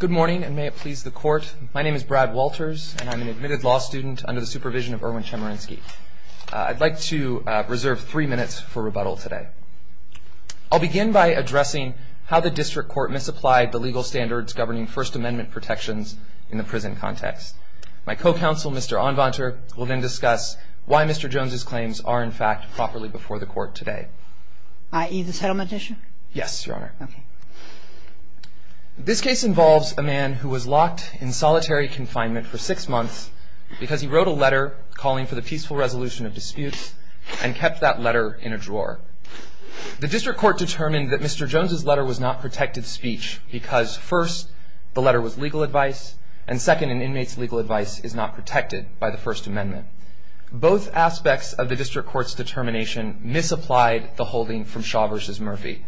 Good morning, and may it please the court. My name is Brad Walters, and I'm an admitted law student under the supervision of Erwin Chemerinsky. I'd like to reserve three minutes for rebuttal today. I'll begin by addressing how the district court misapplied the legal standards governing First Amendment protections in the prison context. My co-counsel, Mr. Onvanter, will then discuss why Mr. Jones's claims are, in fact, properly before the court today. I.e., the settlement issue? Yes, Your Honor. Okay. This case involves a man who was locked in solitary confinement for six months because he wrote a letter calling for the peaceful resolution of disputes and kept that letter in a drawer. The district court determined that Mr. Jones's letter was not protected speech because, first, the letter was legal advice, and, second, an inmate's legal advice is not protected by the First Amendment. Both aspects of the district court's determination misapplied the holding from Shaw v. Murphy.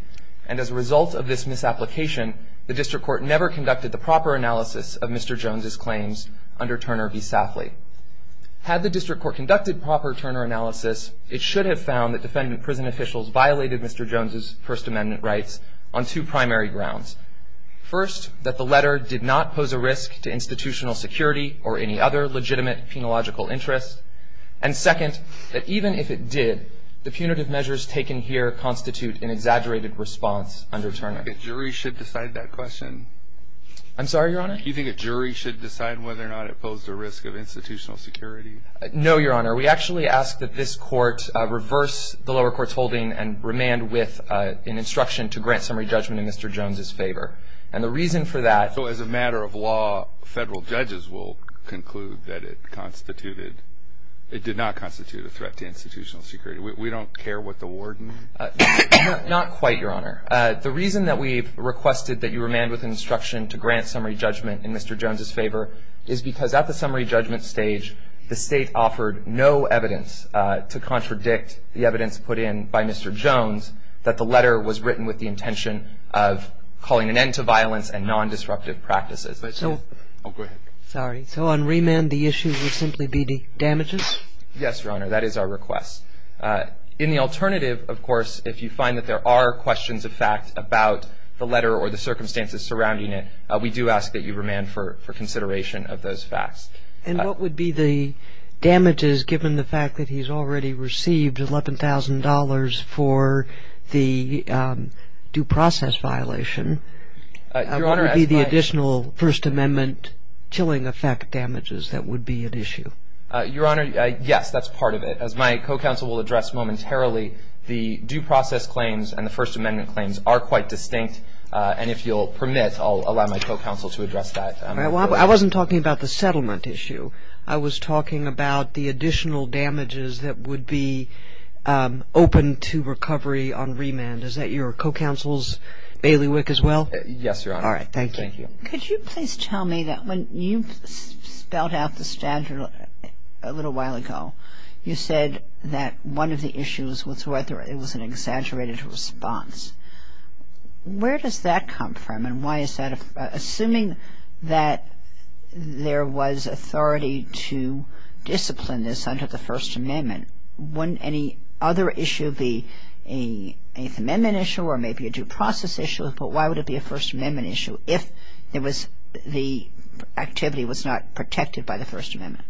And as a result of this misapplication, the district court never conducted the proper analysis of Mr. Jones's claims under Turner v. Safley. Had the district court conducted proper Turner analysis, it should have found that defendant prison officials violated Mr. Jones's First Amendment rights on two primary grounds. First, that the letter did not pose a risk to institutional security or any other legitimate penological interest, and, second, that even if it did, the punitive measures taken here constitute an exaggerated response under Turner. Do you think a jury should decide that question? I'm sorry, Your Honor? Do you think a jury should decide whether or not it posed a risk of institutional security? No, Your Honor. We actually ask that this court reverse the lower court's holding and remand with an instruction to grant summary judgment in Mr. Jones's favor. And the reason for that — So as a matter of law, federal judges will conclude that it did not constitute a threat to institutional security. We don't care what the warden — Not quite, Your Honor. The reason that we've requested that you remand with an instruction to grant summary judgment in Mr. Jones's favor is because at the summary judgment stage, the state offered no evidence to contradict the evidence put in by Mr. Jones that the letter was written with the intention of calling an end to violence and nondisruptive practices. So — Oh, go ahead. Sorry. So on remand, the issue would simply be the damages? Yes, Your Honor. That is our request. In the alternative, of course, if you find that there are questions of fact about the letter or the circumstances surrounding it, we do ask that you remand for consideration of those facts. And what would be the damages, given the fact that he's already received $11,000 for the due process violation? Your Honor, as my — What would be the additional First Amendment chilling effect damages that would be at issue? Your Honor, yes, that's part of it. As my co-counsel will address momentarily, the due process claims and the First Amendment claims are quite distinct. And if you'll permit, I'll allow my co-counsel to address that. I wasn't talking about the settlement issue. I was talking about the additional damages that would be open to recovery on remand. Is that your co-counsel's bailiwick as well? Yes, Your Honor. All right. Thank you. Thank you. Could you please tell me that when you spelled out the statute a little while ago, you said that one of the issues was whether it was an exaggerated response. Where does that come from and why is that? Assuming that there was authority to discipline this under the First Amendment, wouldn't any other issue be an Eighth Amendment issue or maybe a due process issue? But why would it be a First Amendment issue if it was — the activity was not protected by the First Amendment?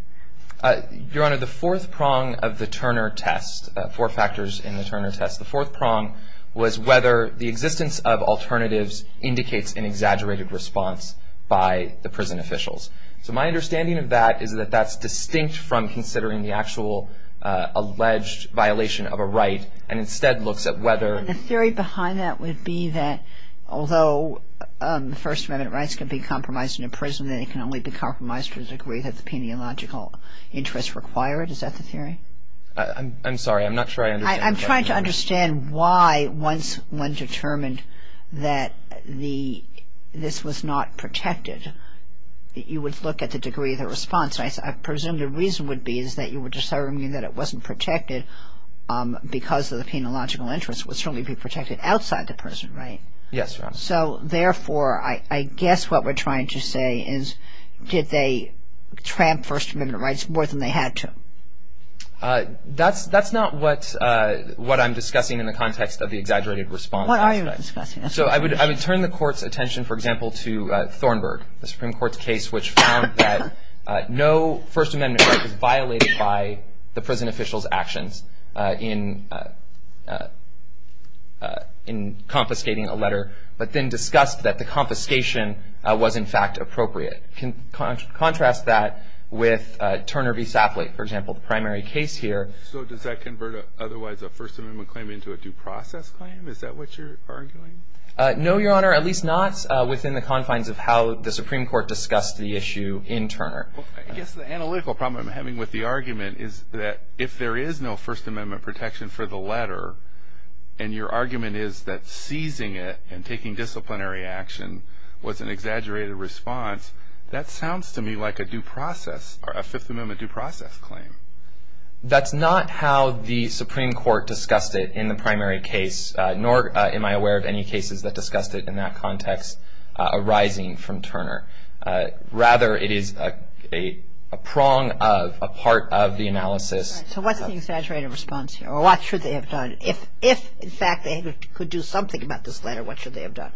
Your Honor, the fourth prong of the Turner test, four factors in the Turner test, the fourth prong was whether the existence of alternatives indicates an exaggerated response by the prison officials. So my understanding of that is that that's distinct from considering the actual alleged violation of a right and instead looks at whether — The theory behind that would be that although the First Amendment rights can be compromised in a prison, they can only be compromised to the degree that the peniological interests require it. Is that the theory? I'm sorry. I'm not sure I understand. I'm trying to understand why once one determined that this was not protected, you would look at the degree of the response. I presume the reason would be is that you were determining that it wasn't protected because of the peniological interests would certainly be protected outside the prison, right? Yes, Your Honor. So therefore, I guess what we're trying to say is did they tramp First Amendment rights more than they had to? That's not what I'm discussing in the context of the exaggerated response. What are you discussing? So I would turn the Court's attention, for example, to Thornburg, the Supreme Court's case, which found that no First Amendment right was violated by the prison officials' actions in confiscating a letter but then discussed that the confiscation was, in fact, appropriate. Contrast that with Turner v. Sapley, for example, the primary case here. So does that convert otherwise a First Amendment claim into a due process claim? Is that what you're arguing? No, Your Honor, at least not within the confines of how the Supreme Court discussed the issue in Turner. I guess the analytical problem I'm having with the argument is that if there is no First Amendment protection for the letter and your argument is that seizing it and taking disciplinary action was an exaggerated response, that sounds to me like a due process or a Fifth Amendment due process claim. That's not how the Supreme Court discussed it in the primary case, nor am I aware of any cases that discussed it in that context arising from Turner. Rather, it is a prong of a part of the analysis. So what's the exaggerated response here, or what should they have done? If, in fact, they could do something about this letter, what should they have done?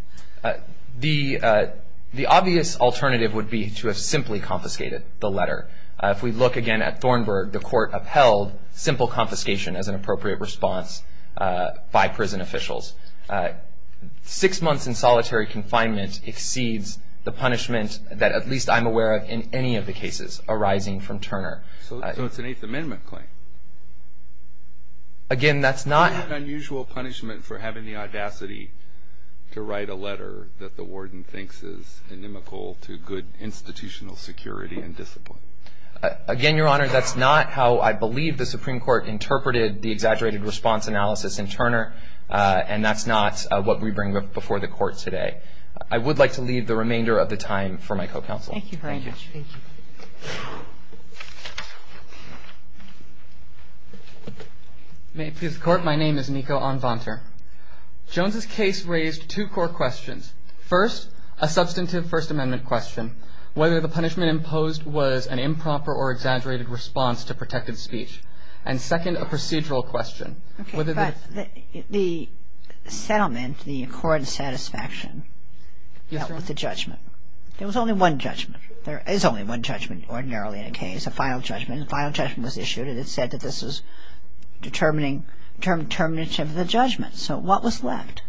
The obvious alternative would be to have simply confiscated the letter. If we look again at Thornburg, the Court upheld simple confiscation as an appropriate response by prison officials. Six months in solitary confinement exceeds the punishment that at least I'm aware of in any of the cases arising from Turner. So it's an Eighth Amendment claim? Again, that's not... ...to write a letter that the warden thinks is inimical to good institutional security and discipline. Again, Your Honor, that's not how I believe the Supreme Court interpreted the exaggerated response analysis in Turner, and that's not what we bring before the Court today. I would like to leave the remainder of the time for my co-counsel. Thank you very much. Thank you. May it please the Court, my name is Nico Anvanter. Jones's case raised two core questions. First, a substantive First Amendment question, whether the punishment imposed was an improper or exaggerated response to protected speech. And second, a procedural question. Okay, but the settlement, the accord and satisfaction dealt with the judgment. There was only one judgment. There is only one judgment ordinarily in a case, a final judgment. And the final judgment was issued, and it said that this is determining termination of the judgment. So what was left?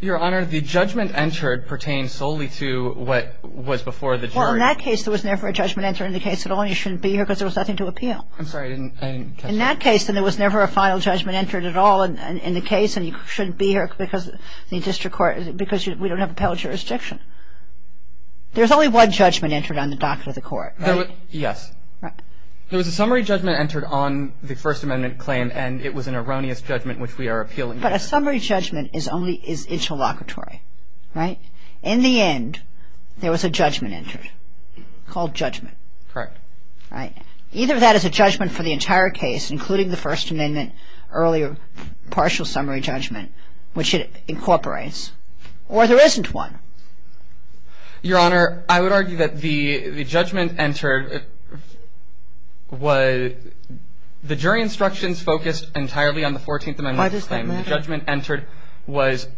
Your Honor, the judgment entered pertained solely to what was before the jury. Well, in that case, there was never a judgment entered in the case at all, and you shouldn't be here because there was nothing to appeal. I'm sorry, I didn't catch that. In that case, then there was never a final judgment entered at all in the case, and you shouldn't be here because the district court, because we don't have appellate jurisdiction. There's only one judgment entered on the doctor of the court, right? Yes. There was a summary judgment entered on the First Amendment claim, and it was an erroneous judgment which we are appealing to. But a summary judgment is only interlocutory, right? In the end, there was a judgment entered called judgment. Correct. Either that is a judgment for the entire case, including the First Amendment, earlier partial summary judgment, which it incorporates, or there isn't one. Your Honor, I would argue that the judgment entered was the jury instructions focused entirely on the 14th Amendment claim. Why does that matter? The judgment entered was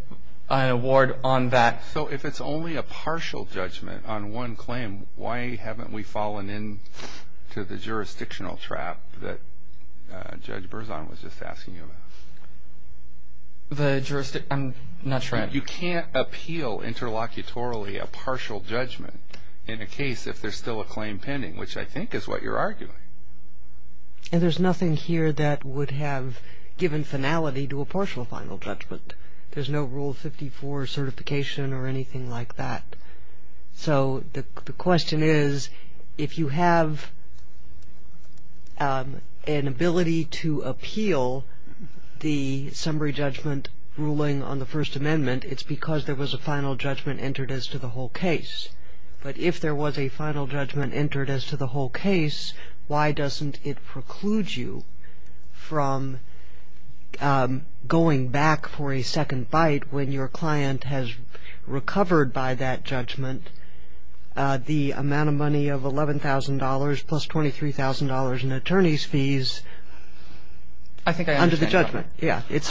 an award on that. So if it's only a partial judgment on one claim, why haven't we fallen into the jurisdictional trap that Judge Berzon was just asking you about? I'm not sure. You can't appeal interlocutorily a partial judgment in a case if there's still a claim pending, which I think is what you're arguing. And there's nothing here that would have given finality to a partial final judgment. There's no Rule 54 certification or anything like that. So the question is, if you have an ability to appeal the summary judgment ruling on the First Amendment, it's because there was a final judgment entered as to the whole case. But if there was a final judgment entered as to the whole case, why doesn't it preclude you from going back for a second bite when your client has recovered by that judgment the amount of money of $11,000 plus $23,000 in attorney's fees under the judgment? I think I understand. Yeah. It's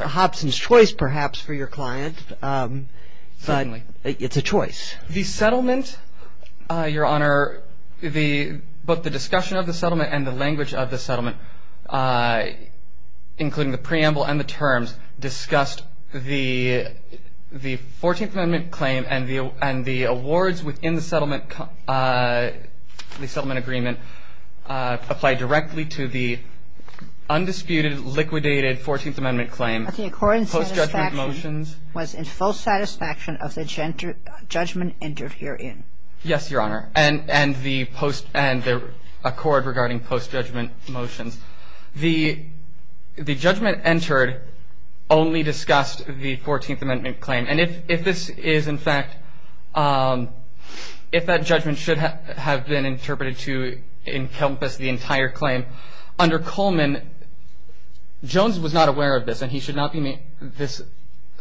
Hobson's choice, perhaps, for your client. Certainly. It's a choice. The settlement, Your Honor, the both the discussion of the settlement and the language of the settlement, including the preamble and the terms, discussed the 14th Amendment claim and the awards within the settlement agreement applied directly to the undisputed, liquidated 14th Amendment claim. Okay. And the judgment was in full satisfaction of the judgment entered herein. Yes, Your Honor. And the post and the accord regarding post-judgment motions. The judgment entered only discussed the 14th Amendment claim. And if this is, in fact, if that judgment should have been interpreted to encompass the entire claim, under Coleman, Jones was not aware of this and he should not be, this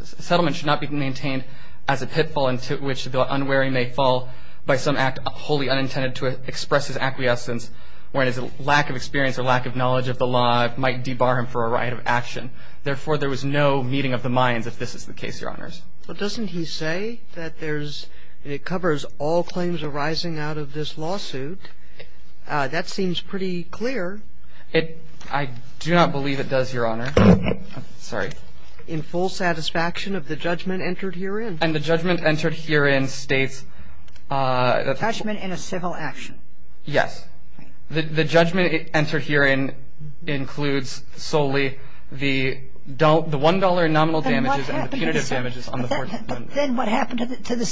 settlement should not be maintained as a pitfall into which the unwary may fall by some act wholly unintended to express his acquiescence when his lack of experience or lack of knowledge of the law might debar him for a right of action. Therefore, there was no meeting of the minds if this is the case, Your Honors. Well, doesn't he say that there's, it covers all claims arising out of this lawsuit? That seems pretty clear. It, I do not believe it does, Your Honor. Sorry. In full satisfaction of the judgment entered herein. And the judgment entered herein states. Judgment in a civil action. Yes. The judgment entered herein includes solely the $1 nominal damages and the punitive damages on the 14th Amendment. Then what happened to the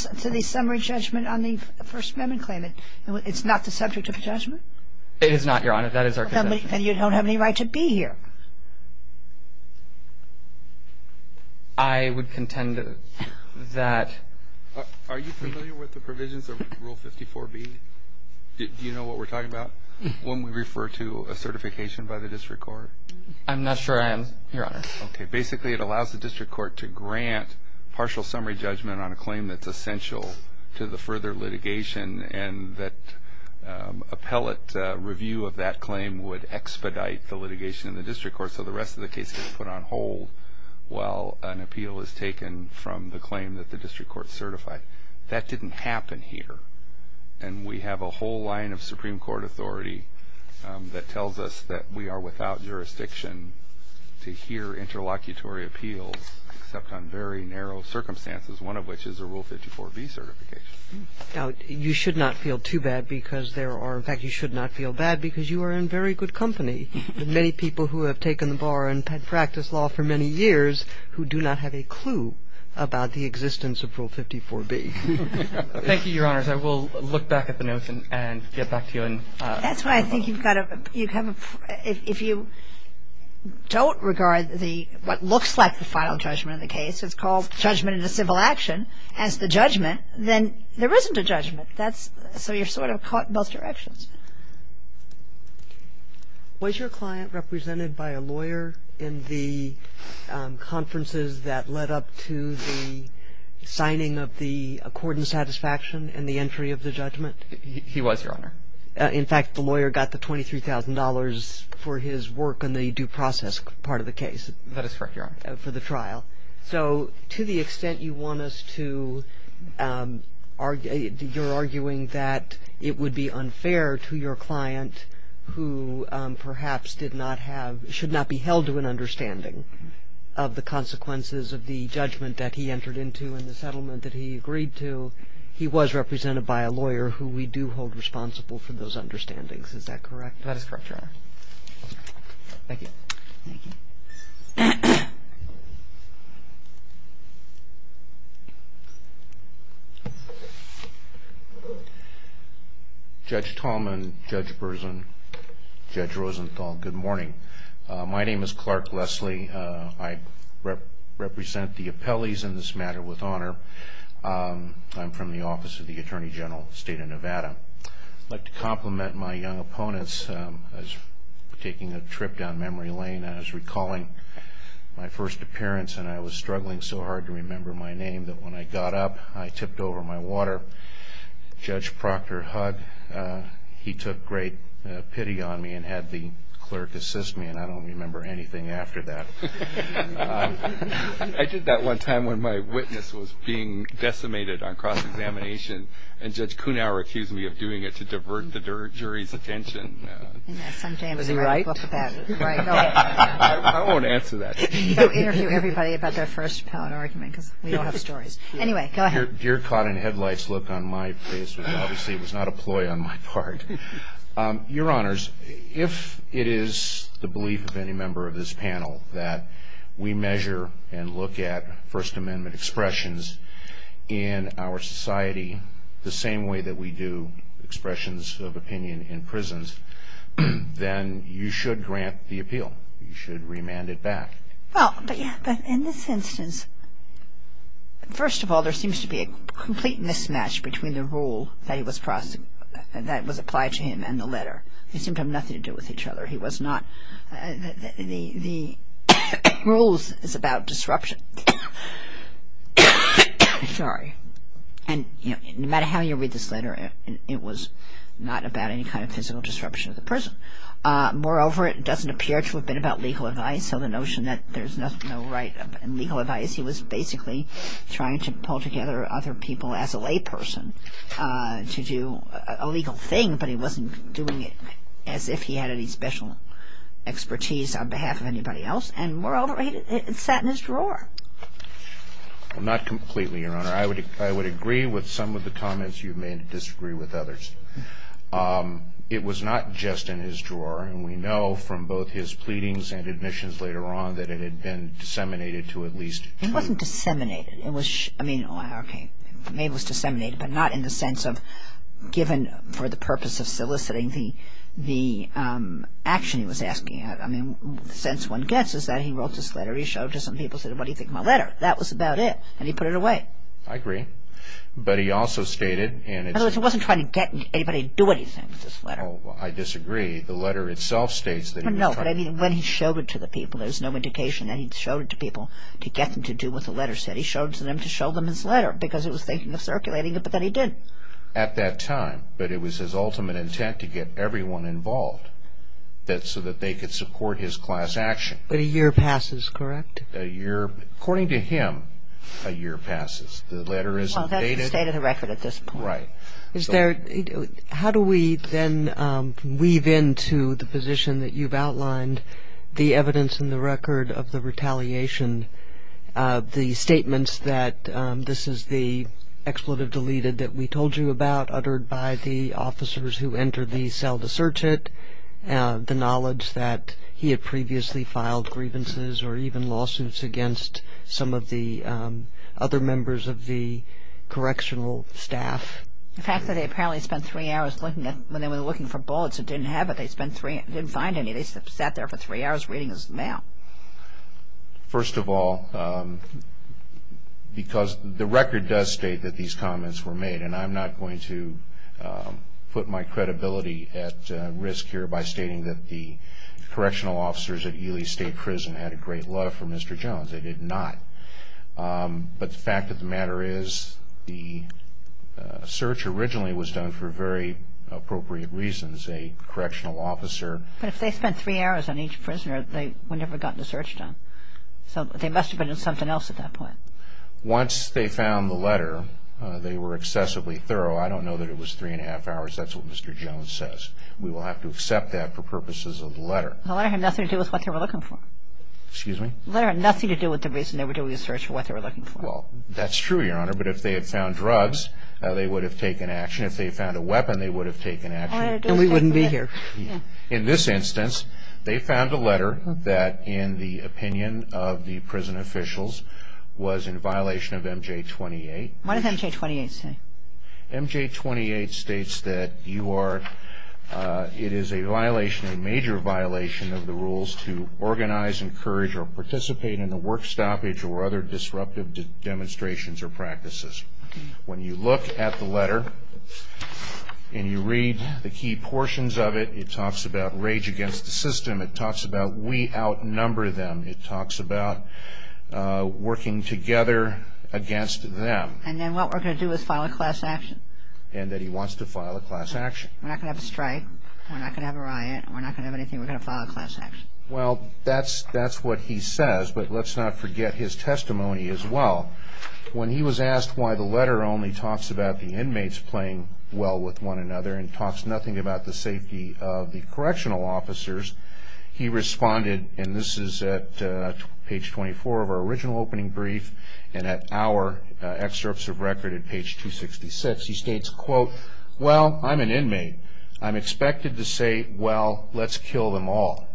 summary judgment on the First Amendment claim? It's not the subject of judgment? It is not, Your Honor. That is our contention. Then you don't have any right to be here. I would contend that. Are you familiar with the provisions of Rule 54B? Do you know what we're talking about? When we refer to a certification by the district court? I'm not sure I am, Your Honor. Okay. Basically, it allows the district court to grant partial summary judgment on a claim that's essential to the further litigation and that appellate review of that claim would expedite the litigation in the district court so the rest of the case gets put on hold while an appeal is taken from the claim that the district court certified. That didn't happen here. And we have a whole line of Supreme Court authority that tells us that we are without jurisdiction to hear interlocutory appeals except on very narrow circumstances, one of which is a Rule 54B certification. Now, you should not feel too bad because there are, in fact, you should not feel bad because you are in very good company with many people who have taken the bar and had practiced law for many years who do not have a clue about the existence of Rule 54B. Thank you, Your Honors. I will look back at the notes and get back to you. If you don't regard what looks like the final judgment of the case, it's called judgment in a civil action, as the judgment, then there isn't a judgment. So you're sort of caught in both directions. Was your client represented by a lawyer in the conferences that led up to the signing of the accordant satisfaction and the entry of the judgment? He was, Your Honor. In fact, the lawyer got the $23,000 for his work on the due process part of the case. That is correct, Your Honor. For the trial. So to the extent you want us to argue, you're arguing that it would be unfair to your client who perhaps did not have, should not be held to an understanding of the consequences of the judgment that he entered into and the settlement that he agreed to. He was represented by a lawyer who we do hold responsible for those understandings. Is that correct? That is correct, Your Honor. Thank you. Thank you. Judge Tallman, Judge Berzin, Judge Rosenthal, good morning. My name is Clark Leslie. I represent the appellees in this matter with honor. I'm from the Office of the Attorney General, State of Nevada. I'd like to compliment my young opponents. I was taking a trip down memory lane and I was recalling my first appearance and I was struggling so hard to remember my name that when I got up, I tipped over my water. Judge Proctor hugged. He took great pity on me and had the clerk assist me, and I don't remember anything after that. I did that one time when my witness was being decimated on cross-examination and Judge Kuhnauer accused me of doing it to divert the jury's attention. Was he right? I won't answer that. Don't interview everybody about their first pallet argument because we all have stories. Anyway, go ahead. Your caught-in-headlights look on my face obviously was not a ploy on my part. Your Honors, if it is the belief of any member of this panel that we measure and look at First Amendment expressions in our society the same way that we do expressions of opinion in prisons, then you should grant the appeal. You should remand it back. Well, but in this instance, first of all, there seems to be a complete mismatch between the rule that was applied to him and the letter. They seemed to have nothing to do with each other. The rules is about disruption. Sorry. And no matter how you read this letter, it was not about any kind of physical disruption of the person. Moreover, it doesn't appear to have been about legal advice, so the notion that there's no right and legal advice, he was basically trying to pull together other people as a layperson to do a legal thing, but he wasn't doing it as if he had any special expertise on behalf of anybody else, and moreover, it sat in his drawer. Not completely, Your Honor. I would agree with some of the comments. You may disagree with others. It was not just in his drawer, and we know from both his pleadings and admissions later on that it had been disseminated to at least two. It wasn't disseminated. I mean, okay, maybe it was disseminated, but not in the sense of given for the purpose of soliciting the action he was asking. I mean, the sense one gets is that he wrote this letter. He showed it to some people and said, what do you think of my letter? That was about it, and he put it away. I agree. But he also stated, and it's... In other words, he wasn't trying to get anybody to do anything with this letter. Oh, I disagree. The letter itself states that he was trying... No, but I mean, when he showed it to the people, there's no indication that he showed it to people to get them to do what the letter said. He showed it to them to show them his letter because he was thinking of circulating it, but then he didn't. At that time, but it was his ultimate intent to get everyone involved so that they could support his class action. But a year passes, correct? A year. According to him, a year passes. The letter isn't dated. Well, that's the state of the record at this point. Right. How do we then weave into the position that you've outlined, the evidence in the record of the retaliation, the statements that this is the expletive deleted that we told you about, uttered by the officers who entered the cell to search it, the knowledge that he had previously filed grievances or even lawsuits against some of the other members of the correctional staff? The fact that they apparently spent three hours looking for bullets and didn't have it, they didn't find any. They sat there for three hours reading his mail. First of all, because the record does state that these comments were made, and I'm not going to put my credibility at risk here by stating that the correctional officers at Ely State Prison had a great love for Mr. Jones. They did not. But the fact of the matter is the search originally was done for very appropriate reasons. A correctional officer. But if they spent three hours on each prisoner, they would never have gotten the search done. So they must have been in something else at that point. Once they found the letter, they were excessively thorough. I don't know that it was three and a half hours. That's what Mr. Jones says. We will have to accept that for purposes of the letter. The letter had nothing to do with what they were looking for. Excuse me? The letter had nothing to do with the reason they were doing the search for what they were looking for. Well, that's true, Your Honor. But if they had found drugs, they would have taken action. If they found a weapon, they would have taken action. And we wouldn't be here. In this instance, they found a letter that, in the opinion of the prison officials, was in violation of MJ-28. What does MJ-28 say? MJ-28 states that you are, it is a violation, a major violation of the rules to organize, encourage, or participate in a work stoppage or other disruptive demonstrations or practices. When you look at the letter and you read the key portions of it, it talks about rage against the system. It talks about we outnumber them. It talks about working together against them. And then what we're going to do is file a class action? And that he wants to file a class action. We're not going to have a strike. We're not going to have a riot. We're not going to have anything. We're going to file a class action. Well, that's what he says, but let's not forget his testimony as well. When he was asked why the letter only talks about the inmates playing well with one another and talks nothing about the safety of the correctional officers, he responded, and this is at page 24 of our original opening brief and at our excerpts of record at page 266. He states, quote, well, I'm an inmate. I'm expected to say, well, let's kill them all.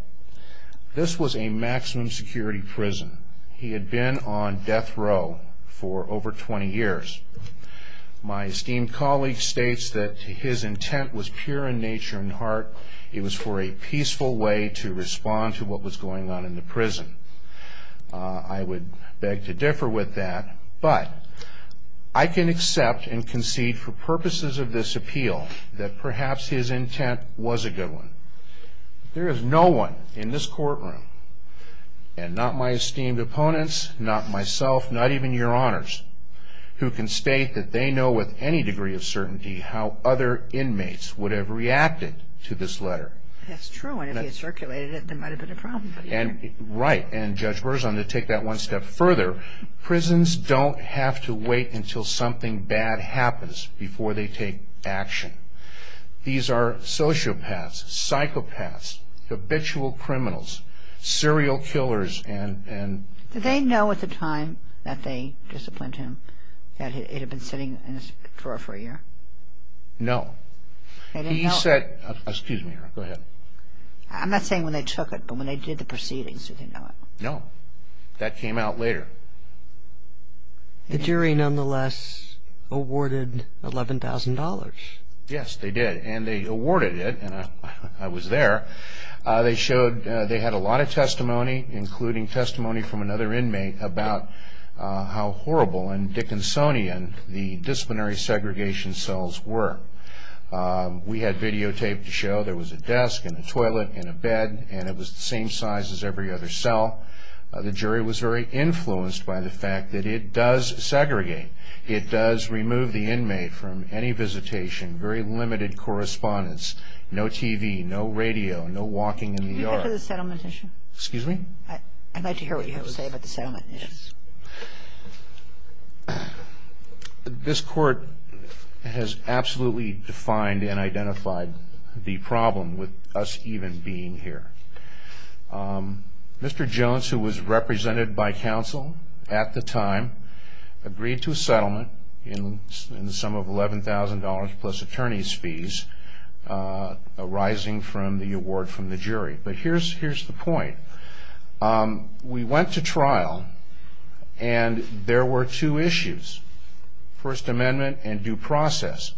This was a maximum security prison. He had been on death row for over 20 years. My esteemed colleague states that his intent was pure in nature and heart. It was for a peaceful way to respond to what was going on in the prison. I would beg to differ with that, but I can accept and concede for purposes of this appeal that perhaps his intent was a good one. There is no one in this courtroom, and not my esteemed opponents, not myself, not even your honors, who can state that they know with any degree of certainty how other inmates would have reacted to this letter. That's true, and if he had circulated it, there might have been a problem. Right, and Judge Berzon, to take that one step further, prisons don't have to wait until something bad happens before they take action. These are sociopaths, psychopaths, habitual criminals, serial killers, and... Did they know at the time that they disciplined him that he had been sitting in this drawer for a year? No. They didn't know? He said, excuse me, go ahead. I'm not saying when they took it, but when they did the proceedings, did they know it? No. That came out later. The jury nonetheless awarded $11,000. Yes, they did, and they awarded it, and I was there. They had a lot of testimony, including testimony from another inmate, about how horrible and Dickinsonian the disciplinary segregation cells were. We had videotaped to show there was a desk and a toilet and a bed, and it was the same size as every other cell. The jury was very influenced by the fact that it does segregate. It does remove the inmate from any visitation, very limited correspondence, no TV, no radio, no walking in the yard. Do you have a settlement issue? Excuse me? I'd like to hear what you have to say about the settlement issues. This court has absolutely defined and identified the problem with us even being here. Mr. Jones, who was represented by counsel at the time, agreed to a settlement in the sum of $11,000 plus attorney's fees arising from the award from the jury. But here's the point. We went to trial, and there were two issues, First Amendment and due process.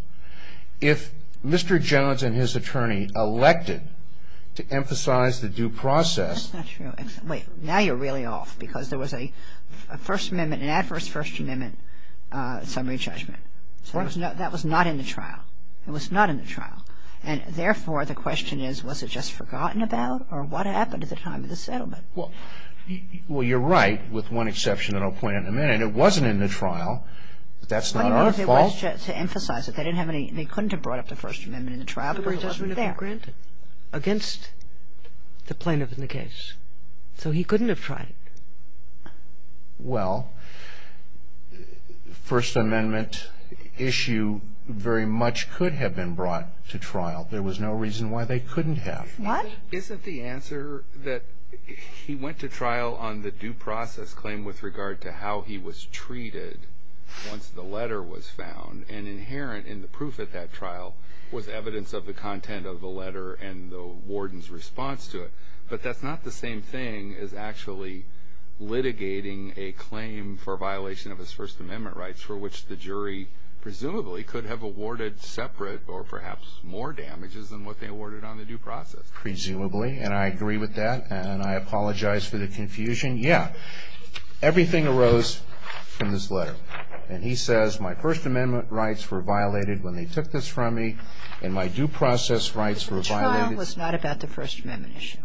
If Mr. Jones and his attorney elected to emphasize the due process. That's not true. Wait, now you're really off, because there was a First Amendment, an adverse First Amendment summary judgment. That was not in the trial. It was not in the trial. And therefore, the question is, was it just forgotten about, or what happened at the time of the settlement? Well, you're right, with one exception that I'll point out in a minute. It wasn't in the trial. But that's not our fault. To emphasize it, they couldn't have brought up the First Amendment in the trial, because it wasn't there. Against the plaintiff in the case. So he couldn't have tried it. Well, First Amendment issue very much could have been brought to trial. There was no reason why they couldn't have. What? Isn't the answer that he went to trial on the due process claim with regard to how he was treated once the letter was found, and inherent in the proof of that trial was evidence of the content of the letter and the warden's response to it. But that's not the same thing as actually litigating a claim for violation of his First Amendment rights for which the jury presumably could have awarded separate or perhaps more damages than what they awarded on the due process. Presumably. And I agree with that. And I apologize for the confusion. Yeah. Everything arose from this letter. And he says, my First Amendment rights were violated when they took this from me, and my due process rights were violated. The trial was not about the First Amendment issue.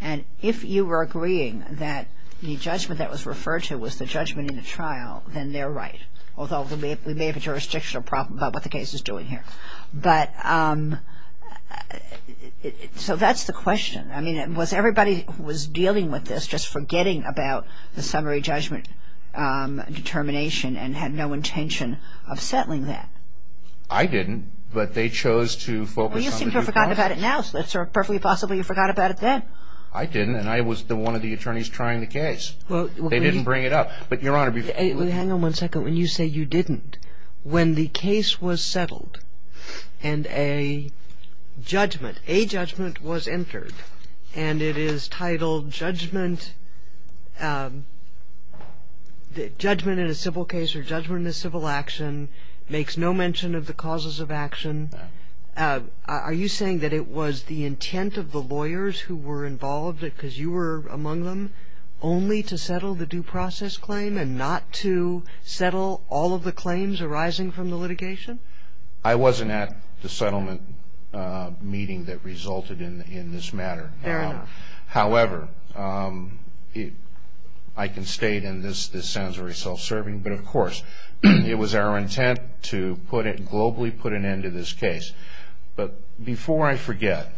And if you were agreeing that the judgment that was referred to was the judgment in the trial, then they're right. Although we may have a jurisdictional problem about what the case is doing here. But so that's the question. I mean, was everybody who was dealing with this just forgetting about the summary judgment determination and had no intention of settling that? I didn't, but they chose to focus on the due process. Well, you seem to have forgotten about it now. So it's perfectly possible you forgot about it then. I didn't. And I was one of the attorneys trying the case. They didn't bring it up. But, Your Honor, before you go. Hang on one second. When you say you didn't, when the case was settled and a judgment, a judgment, was entered, and it is titled judgment in a civil case or judgment in a civil action, makes no mention of the causes of action, are you saying that it was the intent of the lawyers who were involved, because you were among them, only to settle the due process claim and not to settle all of the claims arising from the litigation? I wasn't at the settlement meeting that resulted in this matter. Fair enough. However, I can state, and this sounds very self-serving, but of course, it was our intent to put it, globally put an end to this case. But before I forget,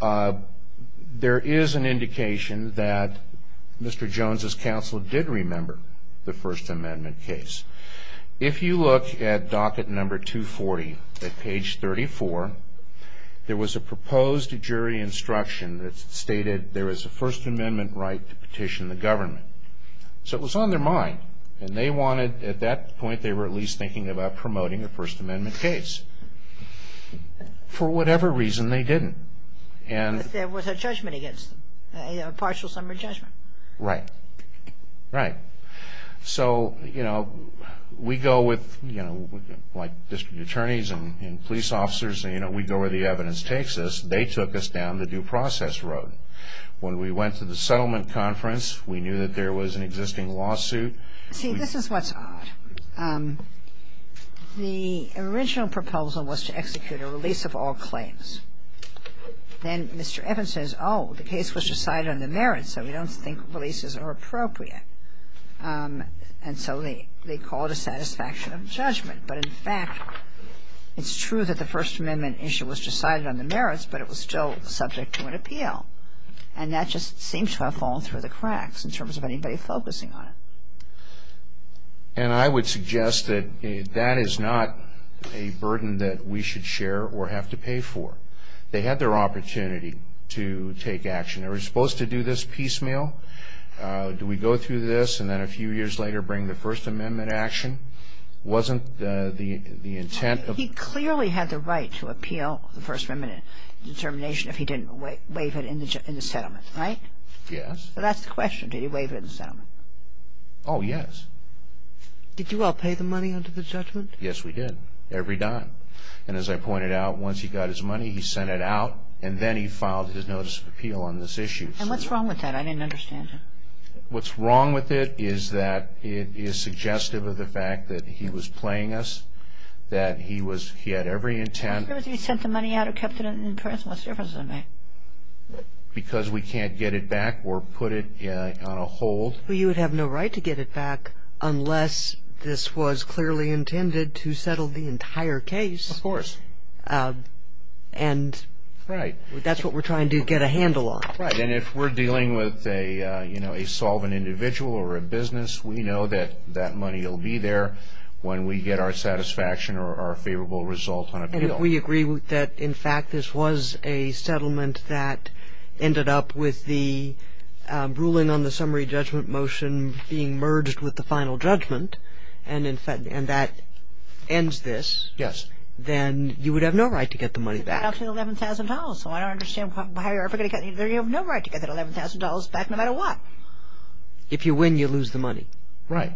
there is an indication that Mr. Jones' counsel did remember the First Amendment case. If you look at docket number 240 at page 34, there was a proposed jury instruction that stated there is a First Amendment right to petition the government. So it was on their mind, and they wanted, at that point, they were at least thinking about promoting a First Amendment case. For whatever reason, they didn't. But there was a judgment against them, a partial summary judgment. Right. Right. So, you know, we go with, you know, like district attorneys and police officers, you know, we go where the evidence takes us. They took us down the due process road. When we went to the settlement conference, we knew that there was an existing lawsuit. See, this is what's odd. The original proposal was to execute a release of all claims. Then Mr. Evans says, oh, the case was decided on the merits, so we don't think releases are appropriate. And so they called a satisfaction of judgment. But, in fact, it's true that the First Amendment issue was decided on the merits, and that just seems to have fallen through the cracks in terms of anybody focusing on it. And I would suggest that that is not a burden that we should share or have to pay for. They had their opportunity to take action. They were supposed to do this piecemeal. Do we go through this and then a few years later bring the First Amendment action? Wasn't the intent of the ---- He clearly had the right to appeal the First Amendment determination if he didn't waive it in the settlement, right? Yes. So that's the question. Did he waive it in the settlement? Oh, yes. Did you all pay the money under the judgment? Yes, we did. Every dime. And as I pointed out, once he got his money, he sent it out, and then he filed his notice of appeal on this issue. And what's wrong with that? I didn't understand it. What's wrong with it is that it is suggestive of the fact that he was playing us, that he was ---- he had every intent ---- What's the difference if he sent the money out or kept it in the press? What's the difference in that? Because we can't get it back or put it on a hold. Well, you would have no right to get it back unless this was clearly intended to settle the entire case. Of course. And that's what we're trying to get a handle on. Right. And if we're dealing with a solvent individual or a business, we know that that money will be there when we get our satisfaction or our favorable result on an appeal. And if we agree that, in fact, this was a settlement that ended up with the ruling on the summary judgment motion being merged with the final judgment, and that ends this, then you would have no right to get the money back. But that's $11,000. So I don't understand why you have no right to get that $11,000 back no matter what. If you win, you lose the money. Right.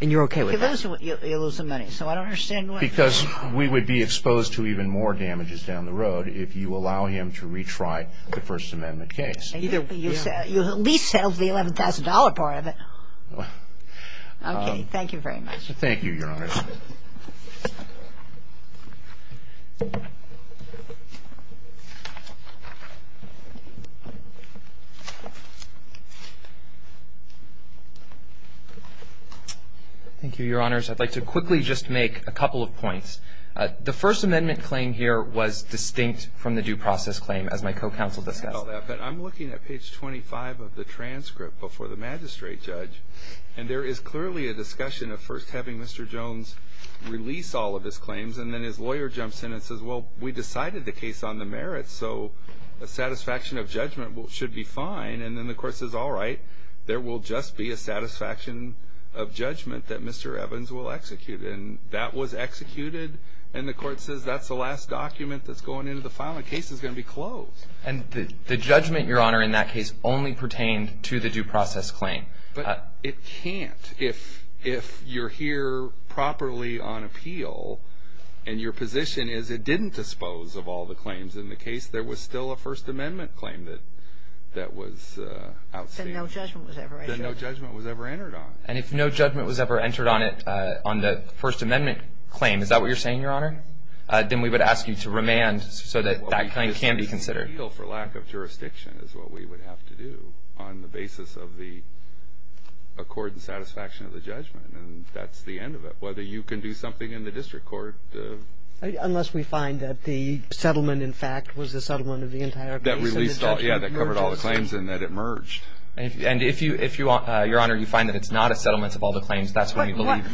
And you're okay with that? You lose the money. So I don't understand why. Because we would be exposed to even more damages down the road if you allow him to retry the First Amendment case. You at least settled the $11,000 part of it. Okay. Thank you very much. Thank you, Your Honor. Thank you, Your Honors. I'd like to quickly just make a couple of points. The First Amendment claim here was distinct from the due process claim, as my co-counsel discussed. I know that. But I'm looking at page 25 of the transcript before the magistrate judge, And I think that's a good point. I think that's a good point. And then his lawyer jumps in and says, Well, we decided the case on the merits, so a satisfaction of judgment should be fine. And then the court says, All right, there will just be a satisfaction of judgment that Mr. Evans will execute. And that was executed. And the court says that's the last document that's going into the file. The case is going to be closed. And the judgment, Your Honor, in that case only pertained to the due process claim. But it can't. If you're here properly on appeal, and your position is it didn't dispose of all the claims in the case, there was still a First Amendment claim that was outstanding. Then no judgment was ever entered. Then no judgment was ever entered on. And if no judgment was ever entered on the First Amendment claim, is that what you're saying, Your Honor? Then we would ask you to remand so that that claim can be considered. For lack of jurisdiction is what we would have to do on the basis of the accord and satisfaction of the judgment. And that's the end of it. Whether you can do something in the district court. Unless we find that the settlement, in fact, was the settlement of the entire case. That released all. Yeah, that covered all the claims and that it merged. And if you, Your Honor, you find that it's not a settlement of all the claims, that's when you believe.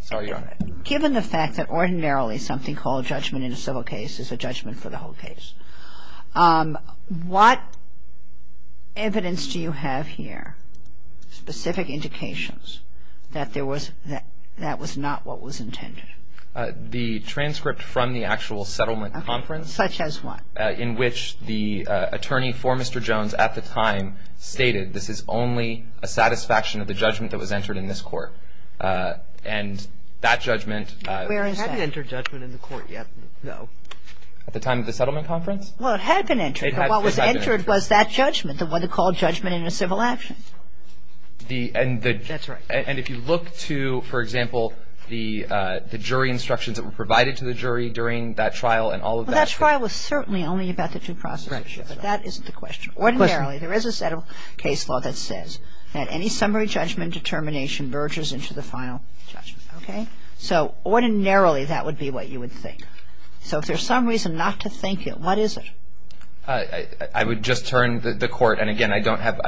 Sorry, Your Honor. Given the fact that ordinarily something called judgment in a civil case is a judgment for the whole case, what evidence do you have here, specific indications, that that was not what was intended? The transcript from the actual settlement conference. Such as what? In which the attorney for Mr. Jones at the time stated this is only a satisfaction of the judgment that was entered in this court. And that judgment. Where is that? We haven't entered judgment in the court yet, no. At the time of the settlement conference? Well, it had been entered. But what was entered was that judgment. The one that called judgment in a civil action. That's right. And if you look to, for example, the jury instructions that were provided to the jury during that trial and all of that. Well, that trial was certainly only about the due process issue. But that isn't the question. Ordinarily, there is a set of case law that says that any summary judgment determination merges into the final judgment. Okay? So ordinarily, that would be what you would think. So if there's some reason not to think it, what is it? I would just turn the court. And, again, I don't have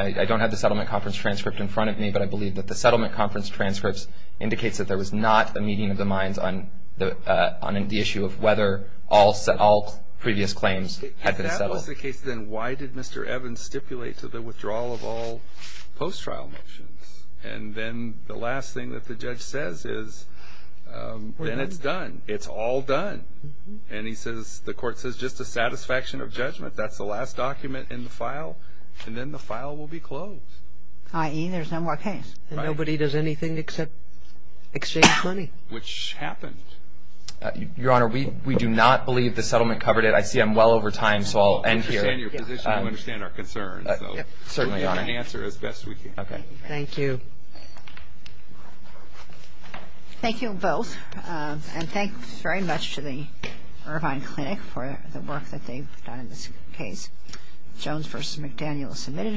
the settlement conference transcript in front of me. But I believe that the settlement conference transcripts indicates that there was not a meeting of the minds on the issue of whether all previous claims had been settled. If that was the case, then why did Mr. Evans stipulate to the withdrawal of all post-trial motions? And then the last thing that the judge says is then it's done. It's all done. And he says the court says just a satisfaction of judgment. That's the last document in the file. And then the file will be closed. I.e., there's no more case. And nobody does anything except exchange money. Which happened. Your Honor, we do not believe the settlement covered it. I see I'm well over time, so I'll end here. I understand your position. I understand our concerns. Certainly, Your Honor. We'll try to answer as best we can. Okay. Thank you. Thank you both. And thanks very much to the Irvine Clinic for the work that they've done in this case. Jones v. McDaniel, submitted.